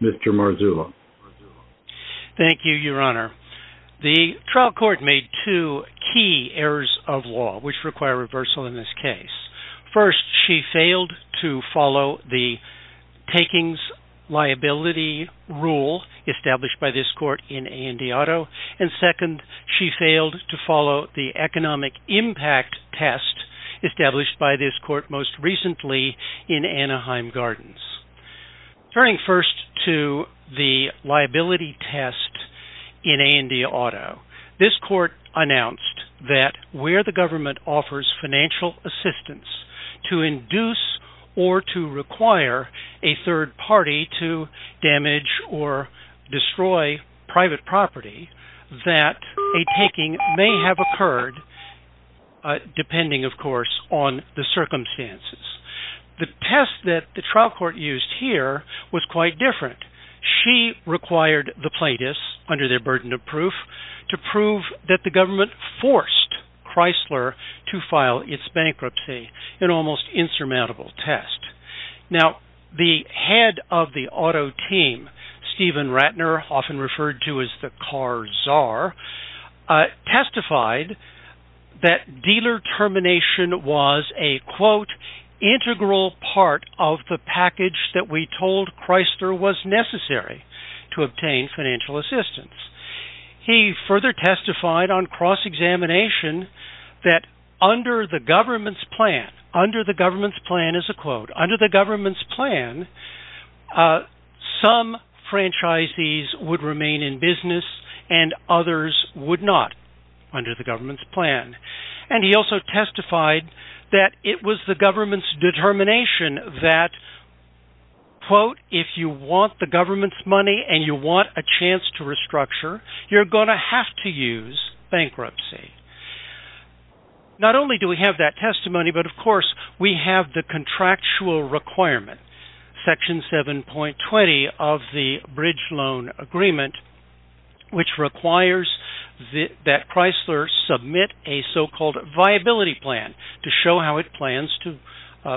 Mr. Marzullo. Thank you, Your Honor. The trial court made two key errors of law which require reversal in this case. First, she failed to follow the takings liability rule established by this court in A&E Auto. And second, she failed to follow the economic impact test established by this court most recently in Anaheim Gardens. Turning first to the liability test in A&E Auto, this court announced that where the government offers financial assistance to induce or to require a third party to damage or destroy private property, that a taking may have occurred, depending, of course, on the circumstances. The test that the trial court used here was quite different. She required the plaintiffs, under their burden of proof, to prove that the government forced Chrysler to file its bankruptcy, an almost insurmountable test. Now, the head of the auto team, Stephen Ratner, often referred to as the car czar, testified that dealer termination was a, quote, integral part of the package that we told Chrysler was necessary to obtain financial assistance. He further testified on cross-examination that under the government's plan, under the government's plan is a quote, under the government's plan, some franchisees would remain in business and others would not, under the government's plan. And he also testified that it was the government's determination that, quote, if you want the government's money and you want a chance to restructure, you're going to have to use bankruptcy. Not only do we have that testimony, but of course, we have the contractual requirement, section 7.20 of the bridge loan agreement, which requires that Chrysler submit a so-called viability plan to show how it plans to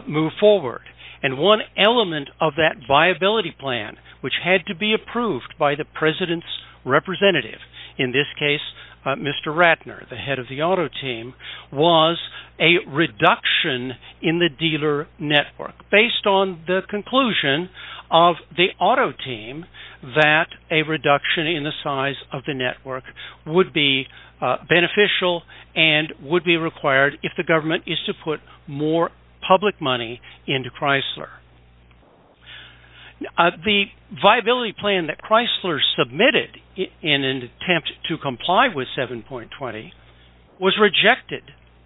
move forward. And one element of that viability plan, which had to be approved by the president's representative, in this case, Mr. Ratner, the head of the auto team, was a reduction in the dealer network based on the conclusion of the auto team that a reduction in the size of the network would be beneficial and would be required if the government is to put more public money into Chrysler. The viability plan that Chrysler submitted in an attempt to comply with 7.20 was rejected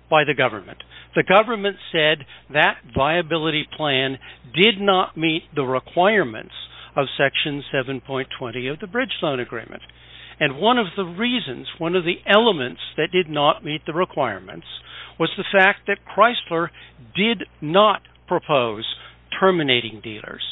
by the government. The government said that viability plan did not meet the requirements of section 7.20 of the bridge loan agreement. And one of the reasons, one of the elements that did not meet the requirements was the fact that Chrysler did not propose terminating dealers.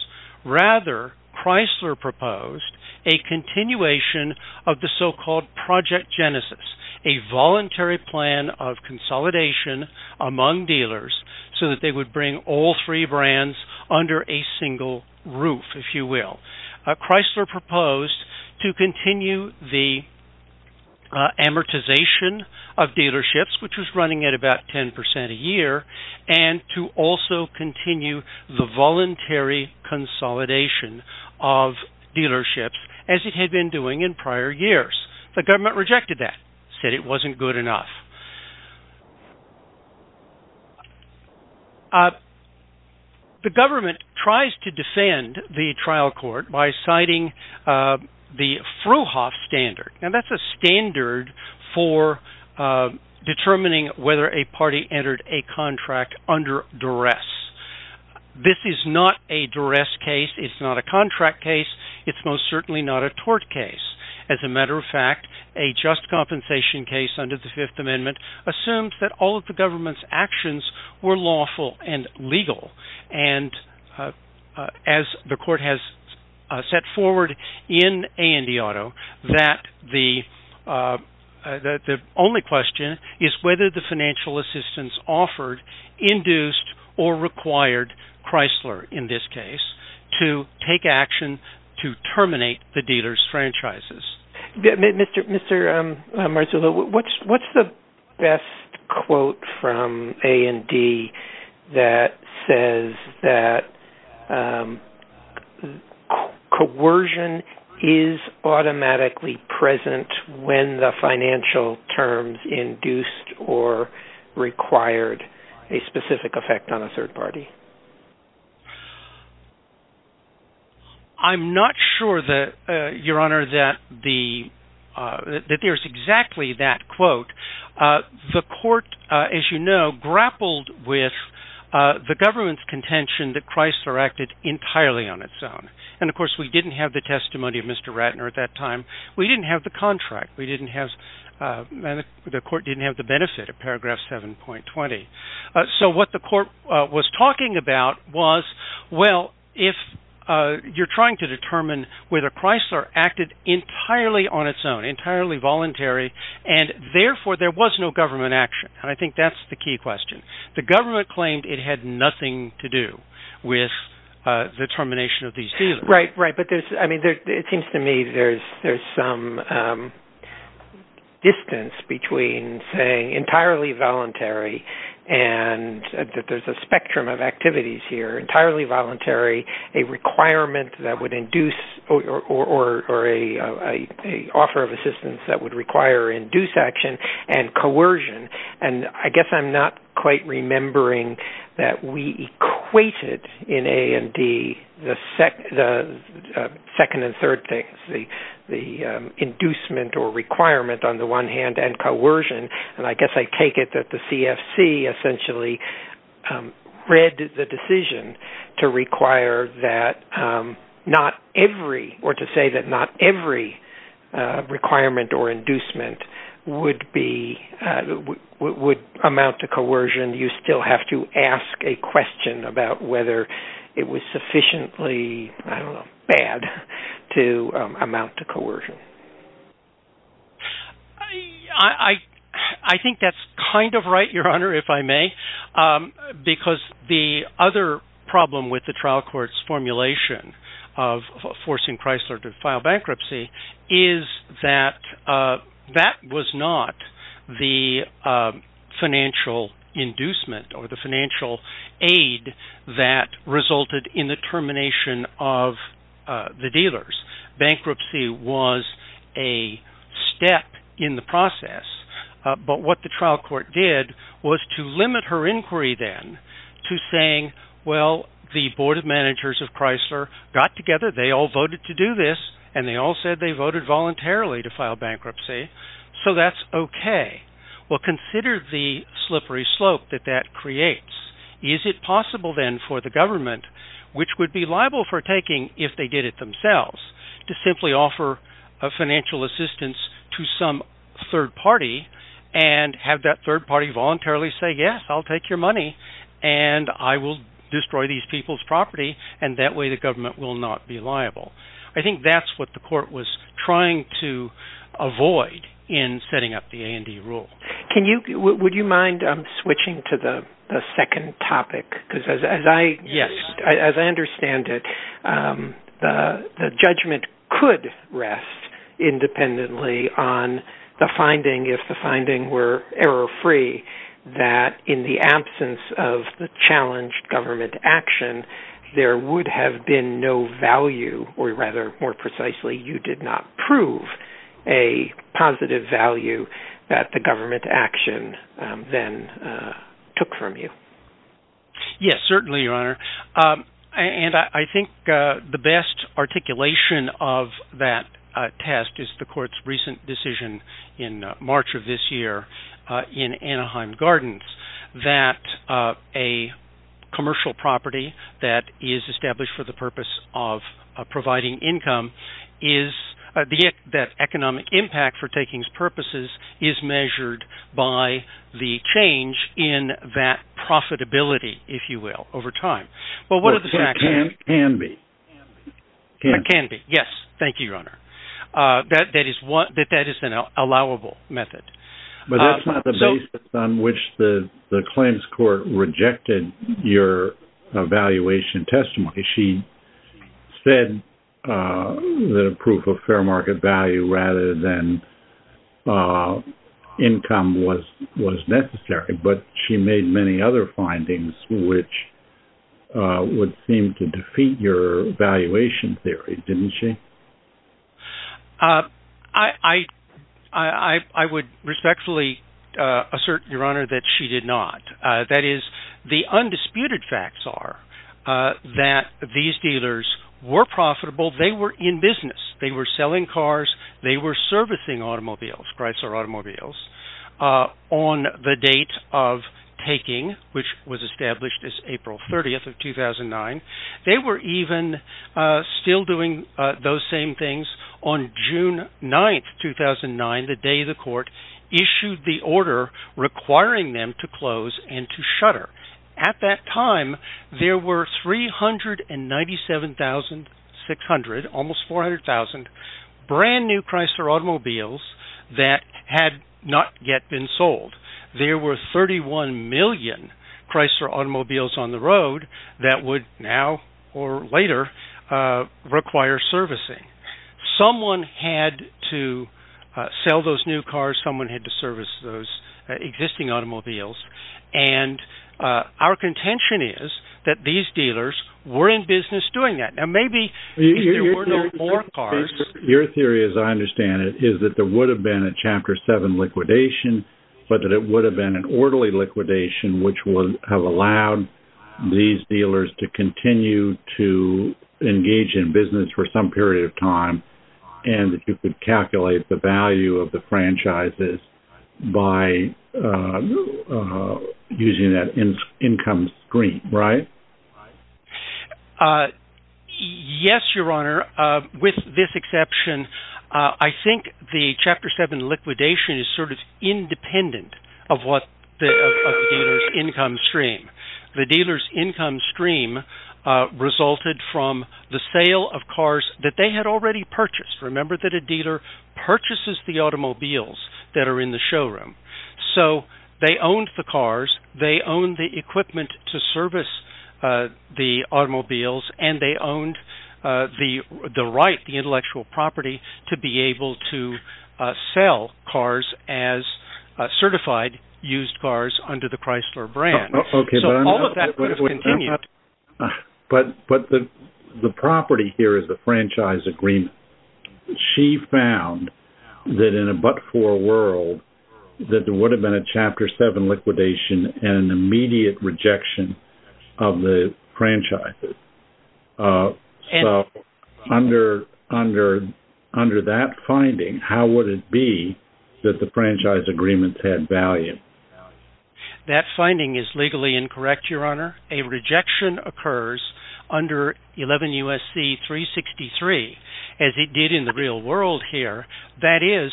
Rather, Chrysler proposed a continuation of the so-called Project Genesis, a voluntary plan of consolidation among dealers so that they would bring all three amortization of dealerships, which was running at about 10% a year, and to also continue the voluntary consolidation of dealerships as it had been doing in prior years. The government rejected that, said it wasn't good enough. The government tries to defend the trial court by citing the Frouhoff standard. Now, that's a standard for determining whether a party entered a contract under duress. This is not a duress case. It's not a contract case. It's most certainly not a tort case. As a matter of fact, a just compensation case under the Fifth Amendment assumed that all of the government's actions were lawful and legal. And as the court has set forward in A&E Auto, that the only question is whether the financial assistance offered induced or required Chrysler, in this case, to take action to terminate the dealer's franchises. Mr. Marzullo, what's the best quote from A&D that says that coercion is automatically present when the financial terms induced or required a specific effect on a third party? I'm not sure, Your Honor, that there's exactly that quote. The court, as you know, grappled with the government's contention that Chrysler acted entirely on its own. And of course, we didn't have the testimony of Mr. Ratner at that time. We didn't have the contract. We didn't have—the court didn't have the benefit of paragraph 7.20. So what the court was talking about was, well, if you're trying to determine whether Chrysler acted entirely on its own, entirely voluntary, and therefore there was no government action. And I think that's the key question. The government claimed it had nothing to do with the termination of these dealings. Right. But it seems to me there's some distance between saying entirely voluntary and that there's a spectrum of activities here, entirely voluntary, a requirement that would induce or an offer of assistance that would require induced action, and coercion. And I guess I'm not quite remembering that we equated in A&D the second and third things, the inducement or requirement on the one hand and coercion. And I guess I take it that the CFC essentially read the decision to require that not every, or to say that not every requirement or inducement would be—would amount to coercion. You still have to ask a question about whether it was sufficiently, I don't know, bad to amount to coercion. I think that's kind of right, Your Honor, if I may, because the other problem with the trial court's formulation of forcing Chrysler to file bankruptcy is that that was not the financial inducement or the financial aid that resulted in the termination of the dealers. Bankruptcy was a step in the process. But what the trial court did was to limit her inquiry then to saying, well, the board of managers of Chrysler got together, they all voted to do this, and they all said they voted voluntarily to file bankruptcy. So that's okay. Well, consider the slippery slope that that creates. Is it possible then for the government, which would be liable for taking if they did it themselves, to simply offer financial assistance to some third party and have that third party voluntarily say, yes, I'll take your money, and I will destroy these people's property, and that way the government will not be liable? I think that's what the court was trying to avoid in setting up the A&E rule. Would you mind switching to the second topic? Because as I understand it, the judgment could rest independently on the finding, if the finding were error-free, that in the absence of the challenged government action, there would have been no value, or rather, more precisely, you did not prove a positive value that the government action then took from you. Yes, certainly, Your Honor. And I think the best articulation of that test is the court's recent decision in March of this year in Anaheim Gardens, that a commercial property that is established for the purpose of providing income, that economic impact for takings purposes is measured by the change in that profitability, if you will, over time. Well, it can be. It can be, yes. Thank you, Your Honor. That is an allowable method. But that's not the basis on which the claims court rejected your evaluation testimony. She said that a proof of fair market value rather than income was necessary, but she made many other findings which would seem to defeat your valuation theory, didn't she? I would respectfully assert, Your Honor, that she did not. That is, the undisputed facts are that these dealers were profitable. They were in business. They were selling cars. They were servicing automobiles, Chrysler automobiles, on the date of taking, which was established as April 30th of 2009. They were even still doing those same things on June 9th, 2009, the day the court issued the order requiring them to close and to shutter. At that time, there were 397,600, almost 400,000, brand new Chrysler automobiles that had not yet been sold. There were 31 million Chrysler automobiles on the road that would now or later require servicing. Someone had to sell those new cars. Someone had to service those existing automobiles. Our contention is that these dealers were in business doing that. Now, maybe there were no more cars. Your theory, as I understand it, is that there would have been a Chapter 7 liquidation, but that it would have been an orderly liquidation, which would have allowed these dealers to continue to engage in business for some period of time, and that you could calculate the value of the franchises by using that income screen, right? Yes, Your Honor. With this exception, I think the Chapter 7 liquidation is sort of independent of the dealer's income stream. The dealer's income stream resulted from the sale of cars that they had already purchased. Remember that a dealer purchases the automobiles that are in the Chrysler brand, and they owned the intellectual property to be able to sell cars as certified used cars under the Chrysler brand. All of that would have continued. But the property here is the franchise agreement. She found that in a but-for world, that there would have been a Chapter 7 liquidation and an immediate rejection of the franchises. Under that finding, how would it be that the franchise agreements had value? That finding is legally incorrect, Your Honor. A rejection occurs under 11 U.S.C. 363, as it did in the real world here. That is,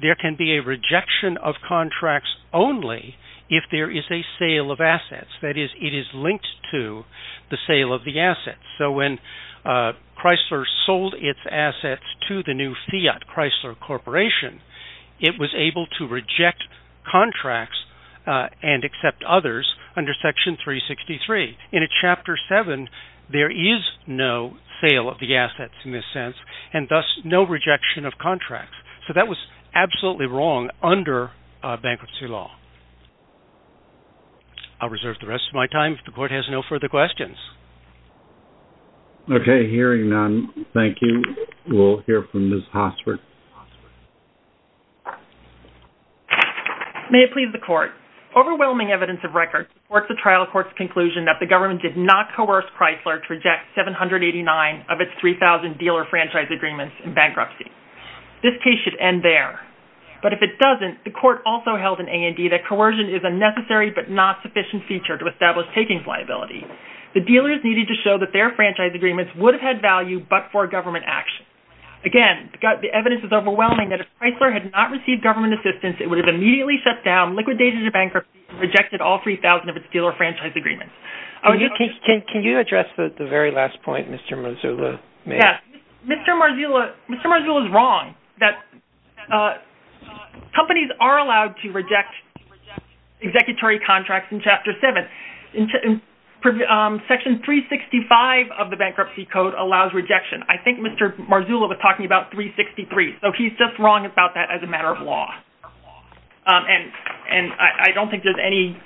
there can be a rejection of contracts only if there is a sale of assets. That is, it is linked to the sale of the assets. So when Chrysler sold its assets to the new Fiat Chrysler Corporation, it was able to reject contracts and accept others under Section 363. In a Chapter 7, there is no sale of the assets, in a sense, and thus no rejection of contracts. So that was absolutely wrong under bankruptcy law. I'll reserve the rest of my time if the Court has no further questions. Okay. Hearing none, thank you. We'll hear from Ms. Hossford. May it please the Court. Overwhelming evidence of record supports the trial court's conclusion that the government did not coerce Chrysler to reject 789 of its 3,000 dealer franchise agreements in bankruptcy. This case should end there. But if it doesn't, the Court also held in A&E that coercion is a necessary but not sufficient feature to establish takings liability. The dealers needed to show that their franchise agreements would have had value but for government action. Again, the evidence is overwhelming that if Chrysler had not received government assistance, it would have immediately shut down liquidation of bankruptcy and rejected all 3,000 of its dealer franchise agreements. Can you address the very last point, Mr. Marzullo? Yes. Mr. Marzullo is wrong that companies are allowed to reject executory contracts in Chapter 7. Section 365 of the Bankruptcy Code allows rejection. I think Mr. Marzullo was talking about 363. So he's just wrong about that as a matter of law. And I don't think there's any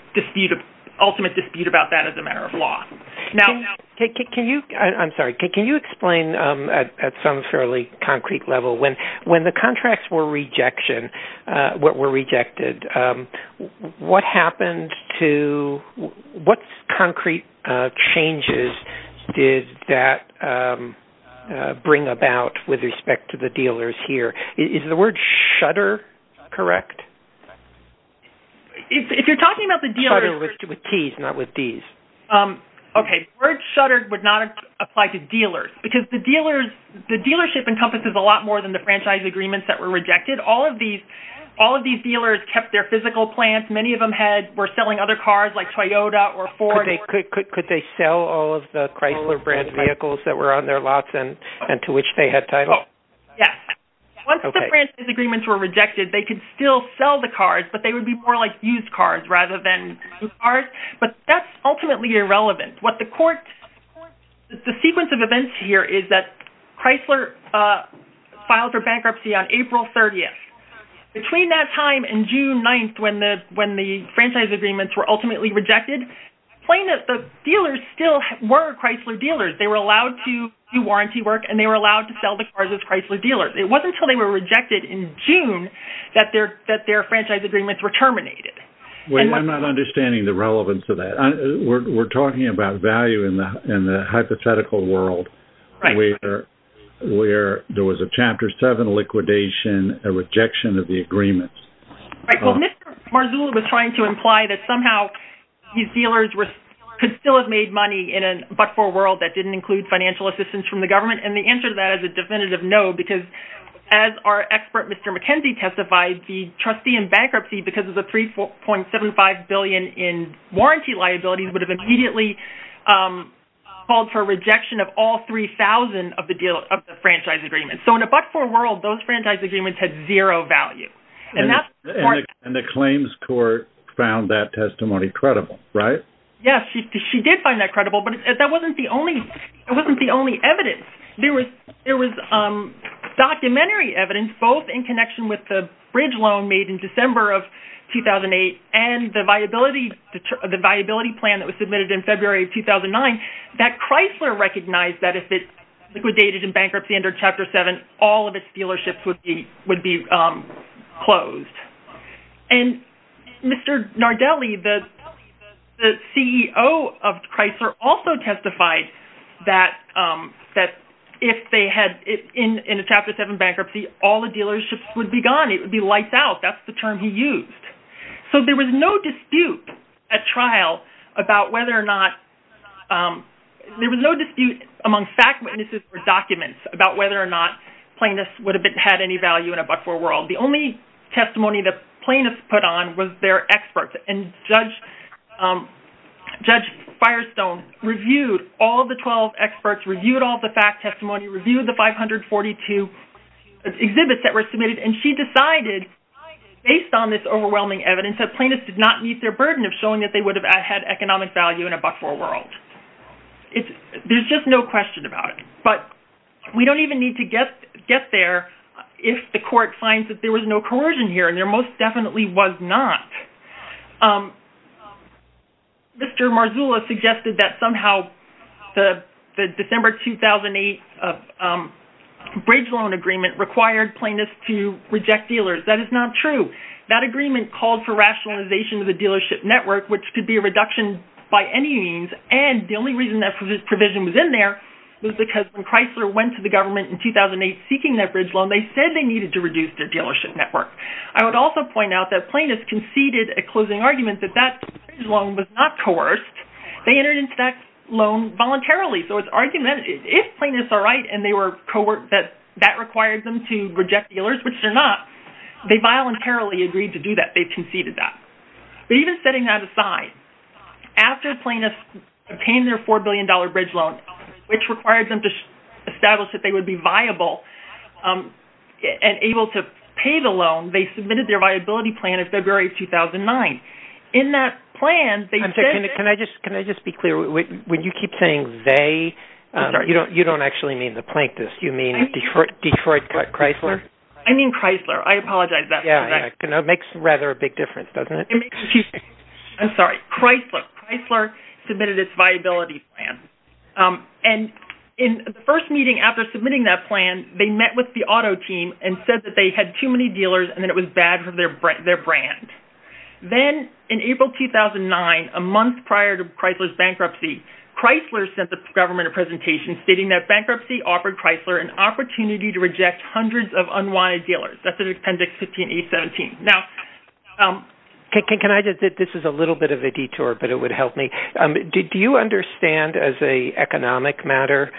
ultimate dispute about that as a matter of law. I'm sorry. Can you explain at some fairly concrete level, when the contracts were rejected, what happened to, what concrete changes did that bring about with respect to the dealers here? Is the word shutter correct? If you're talking about the dealers... Shutter with T's, not with D's. Okay. The word shutter would not apply to dealers because the dealers, the dealership encompasses a lot more than the franchise agreements that were rejected. All of these dealers kept their physical plants. Many of them were selling other cars like Toyota or Ford. Could they sell all of the Chrysler brand vehicles that were on their lots and to which they had title? Yes. Once the franchise agreements were rejected, they could still sell the cars, but they would be more like used cars rather than new cars. But that's ultimately irrelevant. The sequence of events here is that Chrysler filed for bankruptcy on April 30th. Between that time and June 9th, when the franchise agreements were ultimately rejected, the dealers still were Chrysler dealers. They were allowed to do warranty work and they were allowed to sell the cars as Chrysler dealers. It wasn't until they were rejected in June that their franchise agreements were terminated. I'm not understanding the relevance of that. We're talking about value in the hypothetical world where there was a Chapter 7 liquidation, a rejection of the agreements. Well, Mr. Marzullo was trying to imply that somehow these dealers could still have made money in a but-for-world that didn't include financial assistance from the government. The answer to that is a definitive no, because as our expert, Mr. McKenzie, testified, the trustee in bankruptcy, because of the $3.75 billion in warranty liabilities, would have immediately called for a rejection of all 3,000 of the franchise agreements. So in a but-for-world, those franchise agreements had zero value. And the claims court found that testimony credible, right? Yes, she did find that credible, but that wasn't the only evidence. There was documentary evidence, both in connection with the bridge loan made in December of 2008 and the viability plan that was submitted in February of 2009, that Chrysler recognized that if it liquidated in bankruptcy under Chapter 7, all of its dealerships would be closed. And Mr. Nardelli, the CEO of Chrysler, also testified that if they had, in a Chapter 7 bankruptcy, all the dealerships would be gone. It would be lights out. That's the term he used. So there was no dispute at trial about whether or not, there was no dispute among fact witnesses or documents about whether or not plaintiffs would have had any value in a but-for-world. The only testimony that plaintiffs put on was their experts. And Judge Firestone reviewed all of the 12 experts, reviewed all the fact testimony, reviewed the 542 exhibits that were submitted, and she decided, based on this overwhelming evidence, that plaintiffs did not meet their burden of showing that they would have had economic value in a but-for-world. There's just no question about it. But we don't even need to get there if the court finds that there was no coercion here, and there most definitely was not. Mr. Marzullo suggested that somehow the December 2008 bridge loan agreement required plaintiffs to reject dealers. That is not true. That agreement called for rationalization of the dealership network, which could be a reduction by any means. And the only reason that provision was in there was because when Chrysler went to the government in 2008 seeking that bridge loan, they said they needed to reduce their dealership network. I would also point out that plaintiffs conceded a closing argument that that bridge loan was not coerced. They entered into that loan voluntarily. So it's argumentative. If plaintiffs are right and they were coerced that that required them to reject dealers, which they're not, they voluntarily agreed to do that. They conceded that. But even setting that aside, after plaintiffs obtained their $4 billion bridge loan, which required them to establish that they would be viable and able to pay the loan, they submitted their viability plan in February 2009. In that plan, they said that... Can I just be clear? When you keep saying they, you don't actually mean the plaintiffs. You mean Detroit Chrysler? I mean Chrysler. I apologize for that. It makes rather a big difference, doesn't it? I'm sorry. Chrysler submitted its viability plan. And in the first meeting after submitting that and said that they had too many dealers and that it was bad for their brand. Then in April 2009, a month prior to Chrysler's bankruptcy, Chrysler sent the government a presentation stating that bankruptcy offered Chrysler an opportunity to reject hundreds of unwanted dealers. That's in Appendix 15A17. Now... Can I just... This is a little bit of a detour, but it would help me. Did you understand as an economic matter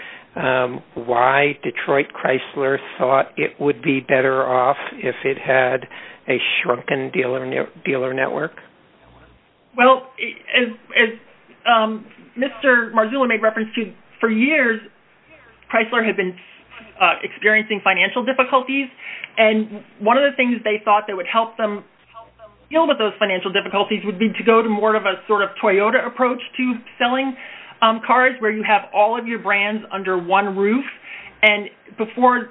why Detroit Chrysler thought it would be better off if it had a shrunken dealer network? Well, as Mr. Marzullo made reference to, for years, Chrysler had been experiencing financial difficulties. And one of the things they thought that would help them deal with those financial difficulties would be to go to more a Toyota approach to selling cars where you have all of your brands under one roof. And before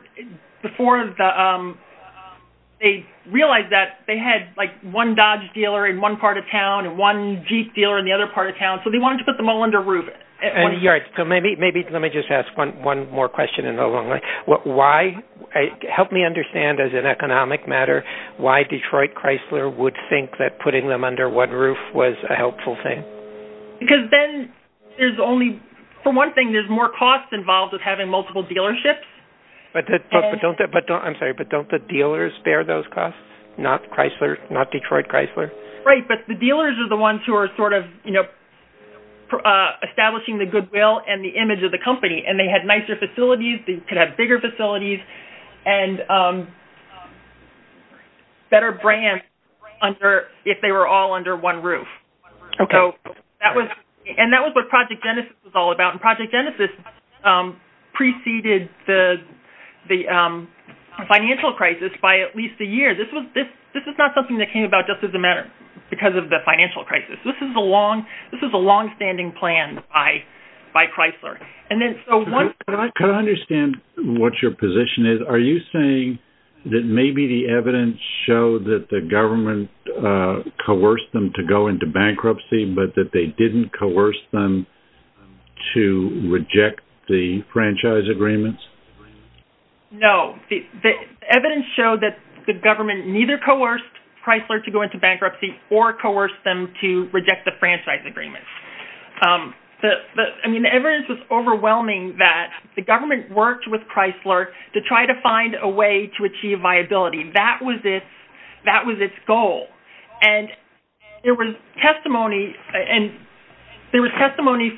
they realized that, they had one Dodge dealer in one part of town and one Jeep dealer in the other part of town. So they wanted to put them all under a roof. Maybe let me just ask one more question in the long run. Help me understand as an economic matter why Detroit Chrysler would think that putting them under one roof was a helpful thing. Because then there's only... For one thing, there's more costs involved with having multiple dealerships. I'm sorry, but don't the dealers bear those costs? Not Chrysler? Not Detroit Chrysler? Right. But the dealers are the ones who are establishing the goodwill and the image of the company. And they had nicer facilities. They could have bigger facilities and better brands if they were all under one roof. Okay. And that was what Project Genesis was all about. And Project Genesis preceded the financial crisis by at least a year. This is not something that came about just as a matter because of the financial crisis. This is a long-standing plan by Chrysler. And then... Can I understand what your position is? Are you saying that maybe the evidence showed that the government coerced them to go into bankruptcy, but that they didn't coerce them to reject the franchise agreements? No. The evidence showed that the government neither coerced Chrysler to go into bankruptcy or coerced them to reject the franchise agreements. I mean, the evidence was overwhelming that the government worked with Chrysler to try to find a way to achieve viability. That was its goal. And there was testimony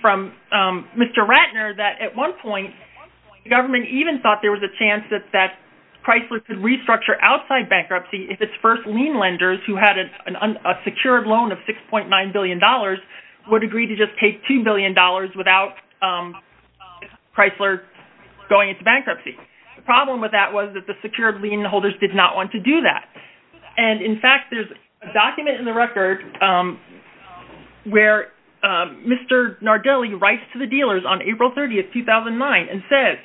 from Mr. Ratner that at one point, the government even thought there was a chance that Chrysler could restructure outside bankruptcy if its first lien lenders who had a secured loan of $6.9 billion would agree to just take $2 billion without Chrysler going into bankruptcy. The problem with that was that the secured lien holders did not want to do that. And in fact, there's a document in the record where Mr. Nardelli writes to the dealers on April 30, 2009, and says,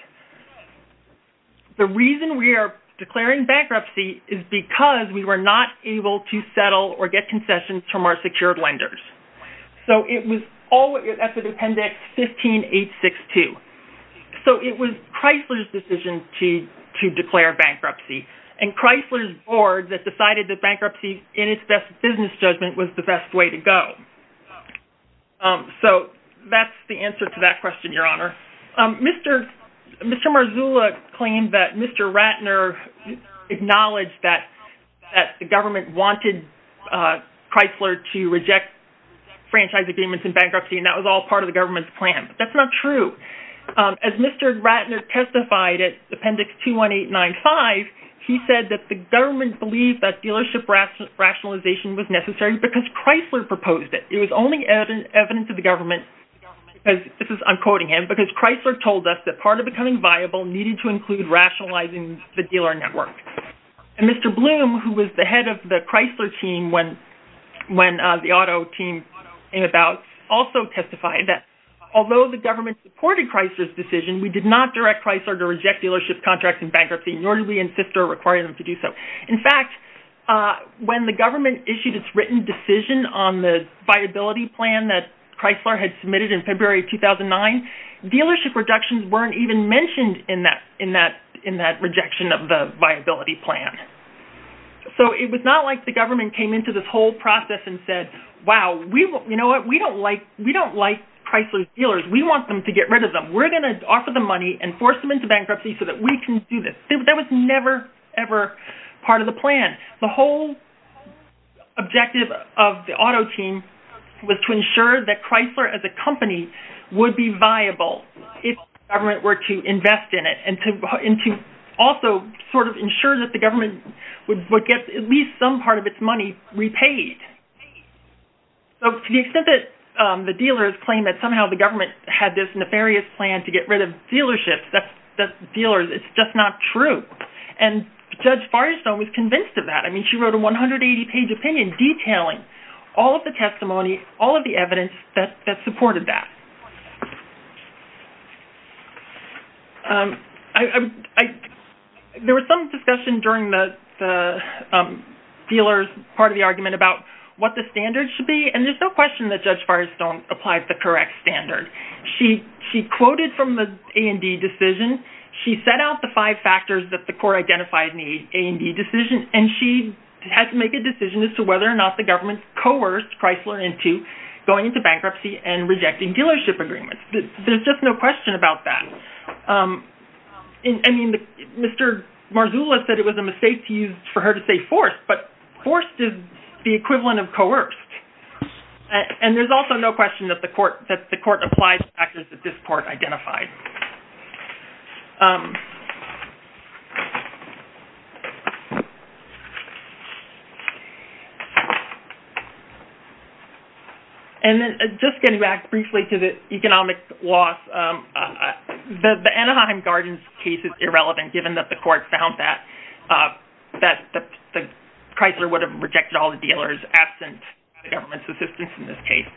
the reason we are declaring bankruptcy is because we were not able to settle or get concessions from our secured lenders. So it was all at the appendix 15862. So it was Chrysler's decision to declare bankruptcy and Chrysler's board that decided that bankruptcy in its best business judgment was the best way to go. So that's the answer to that question, Your Honor. Mr. Marzullo claimed that Mr. Ratner acknowledged that the government wanted Chrysler to reject franchise agreements in bankruptcy, and that was all part of the government's plan. But that's not true. As Mr. Ratner testified at appendix 21895, he said that the government believed that dealership rationalization was necessary because Chrysler proposed it. It was only evidence of the government, because this is, I'm quoting him, because Chrysler told us that part of becoming viable needed to include rationalizing the dealer network. And Mr. Bloom, who was the head of the Chrysler team when the auto team came about, also testified that although the government supported Chrysler's decision, we did not direct Chrysler to reject dealership contracts in bankruptcy, nor did we insist or require them to do so. In fact, when the government issued its written decision on the viability plan that Chrysler had submitted in February of 2009, dealership reductions weren't even mentioned in that rejection of the viability plan. So it was not like the government came into this whole process and said, wow, we don't like Chrysler's dealers. We want them to get rid of them. We're going to offer them money and force them into bankruptcy so that we can do this. That was never, ever part of the plan. The whole objective of the auto team was to ensure that Chrysler as a company would be viable if government were to invest in it and to also sort of ensure that the government would get at least some part of its money repaid. So to the extent that the dealers claim that somehow the government had this nefarious plan to get rid of dealerships, that's dealers. It's just not true. And Judge Firestone was convinced of that. I mean, she wrote a 180-page opinion detailing all of the testimony, all of the evidence that supported that. There was some discussion during the dealers' part of the argument about what the standards should be, and there's no question that Judge Firestone applied the correct standard. She quoted from the A&D decision. She set out the five factors that the court identified in the A&D decision, and she had to make a decision as to whether or not the government coerced Chrysler into going into bankruptcy and rejecting dealership agreements. There's just no question about that. I mean, Mr. Marzullo said it was a mistake for her to say forced, but forced is the equivalent of coerced. And there's also no question that the court applied the factors that this court identified. And then just getting back briefly to the economic loss, the Anaheim Gardens case is irrelevant given that the court found that Chrysler would have rejected all the dealers absent the government's assistance in this case.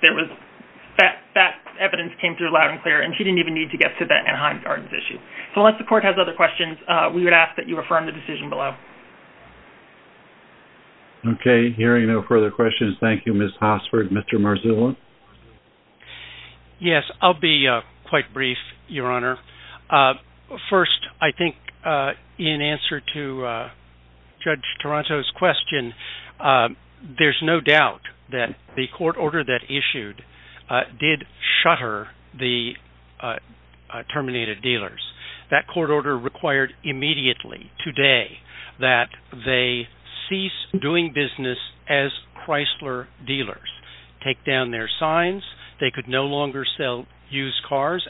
That evidence came through loud and clear, and she didn't even need to get to the Anaheim Gardens issue. So unless the court has other questions, we would ask that you refer in the decision below. Okay, hearing no further questions, thank you, Ms. Hossford. Mr. Marzullo? Yes, I'll be quite brief, Your Honor. First, I think in answer to Judge Toronto's question, there's no doubt that the court order that issued did shutter the terminated dealers. That court order required immediately, today, that they cease doing business as Chrysler dealers, take down their signs, they could no longer sell used cars,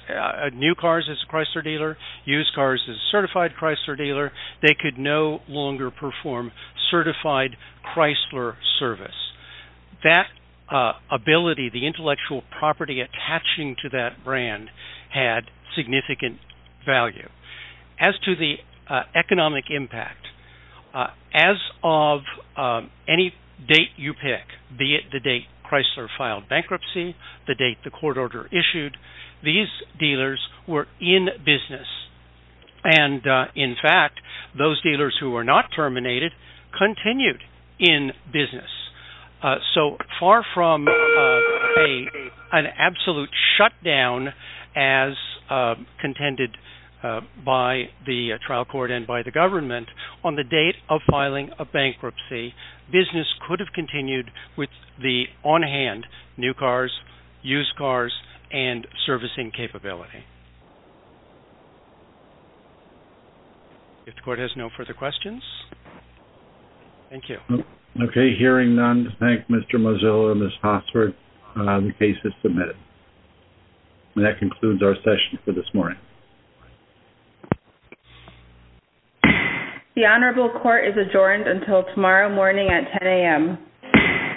new cars as a Chrysler dealer, used cars as a certified Chrysler dealer, they could no longer perform certified Chrysler service. That ability, the intellectual property attaching to that brand had significant value. As to the economic impact, as of any date you pick, be it the date Chrysler filed bankruptcy, the date the court order issued, these dealers were in business. And in fact, those dealers who are not terminated, continued in business. So far from an absolute shutdown, as contended by the trial court and by the government, on the date of filing a bankruptcy, business could have continued with the on-hand new cars, used cars, and servicing capability. If the court has no further questions, thank you. Okay, hearing none, thank Mr. Mozilla and Ms. Hosford. The case is submitted. And that concludes our session for this morning. The honorable court is adjourned until tomorrow morning at 10am.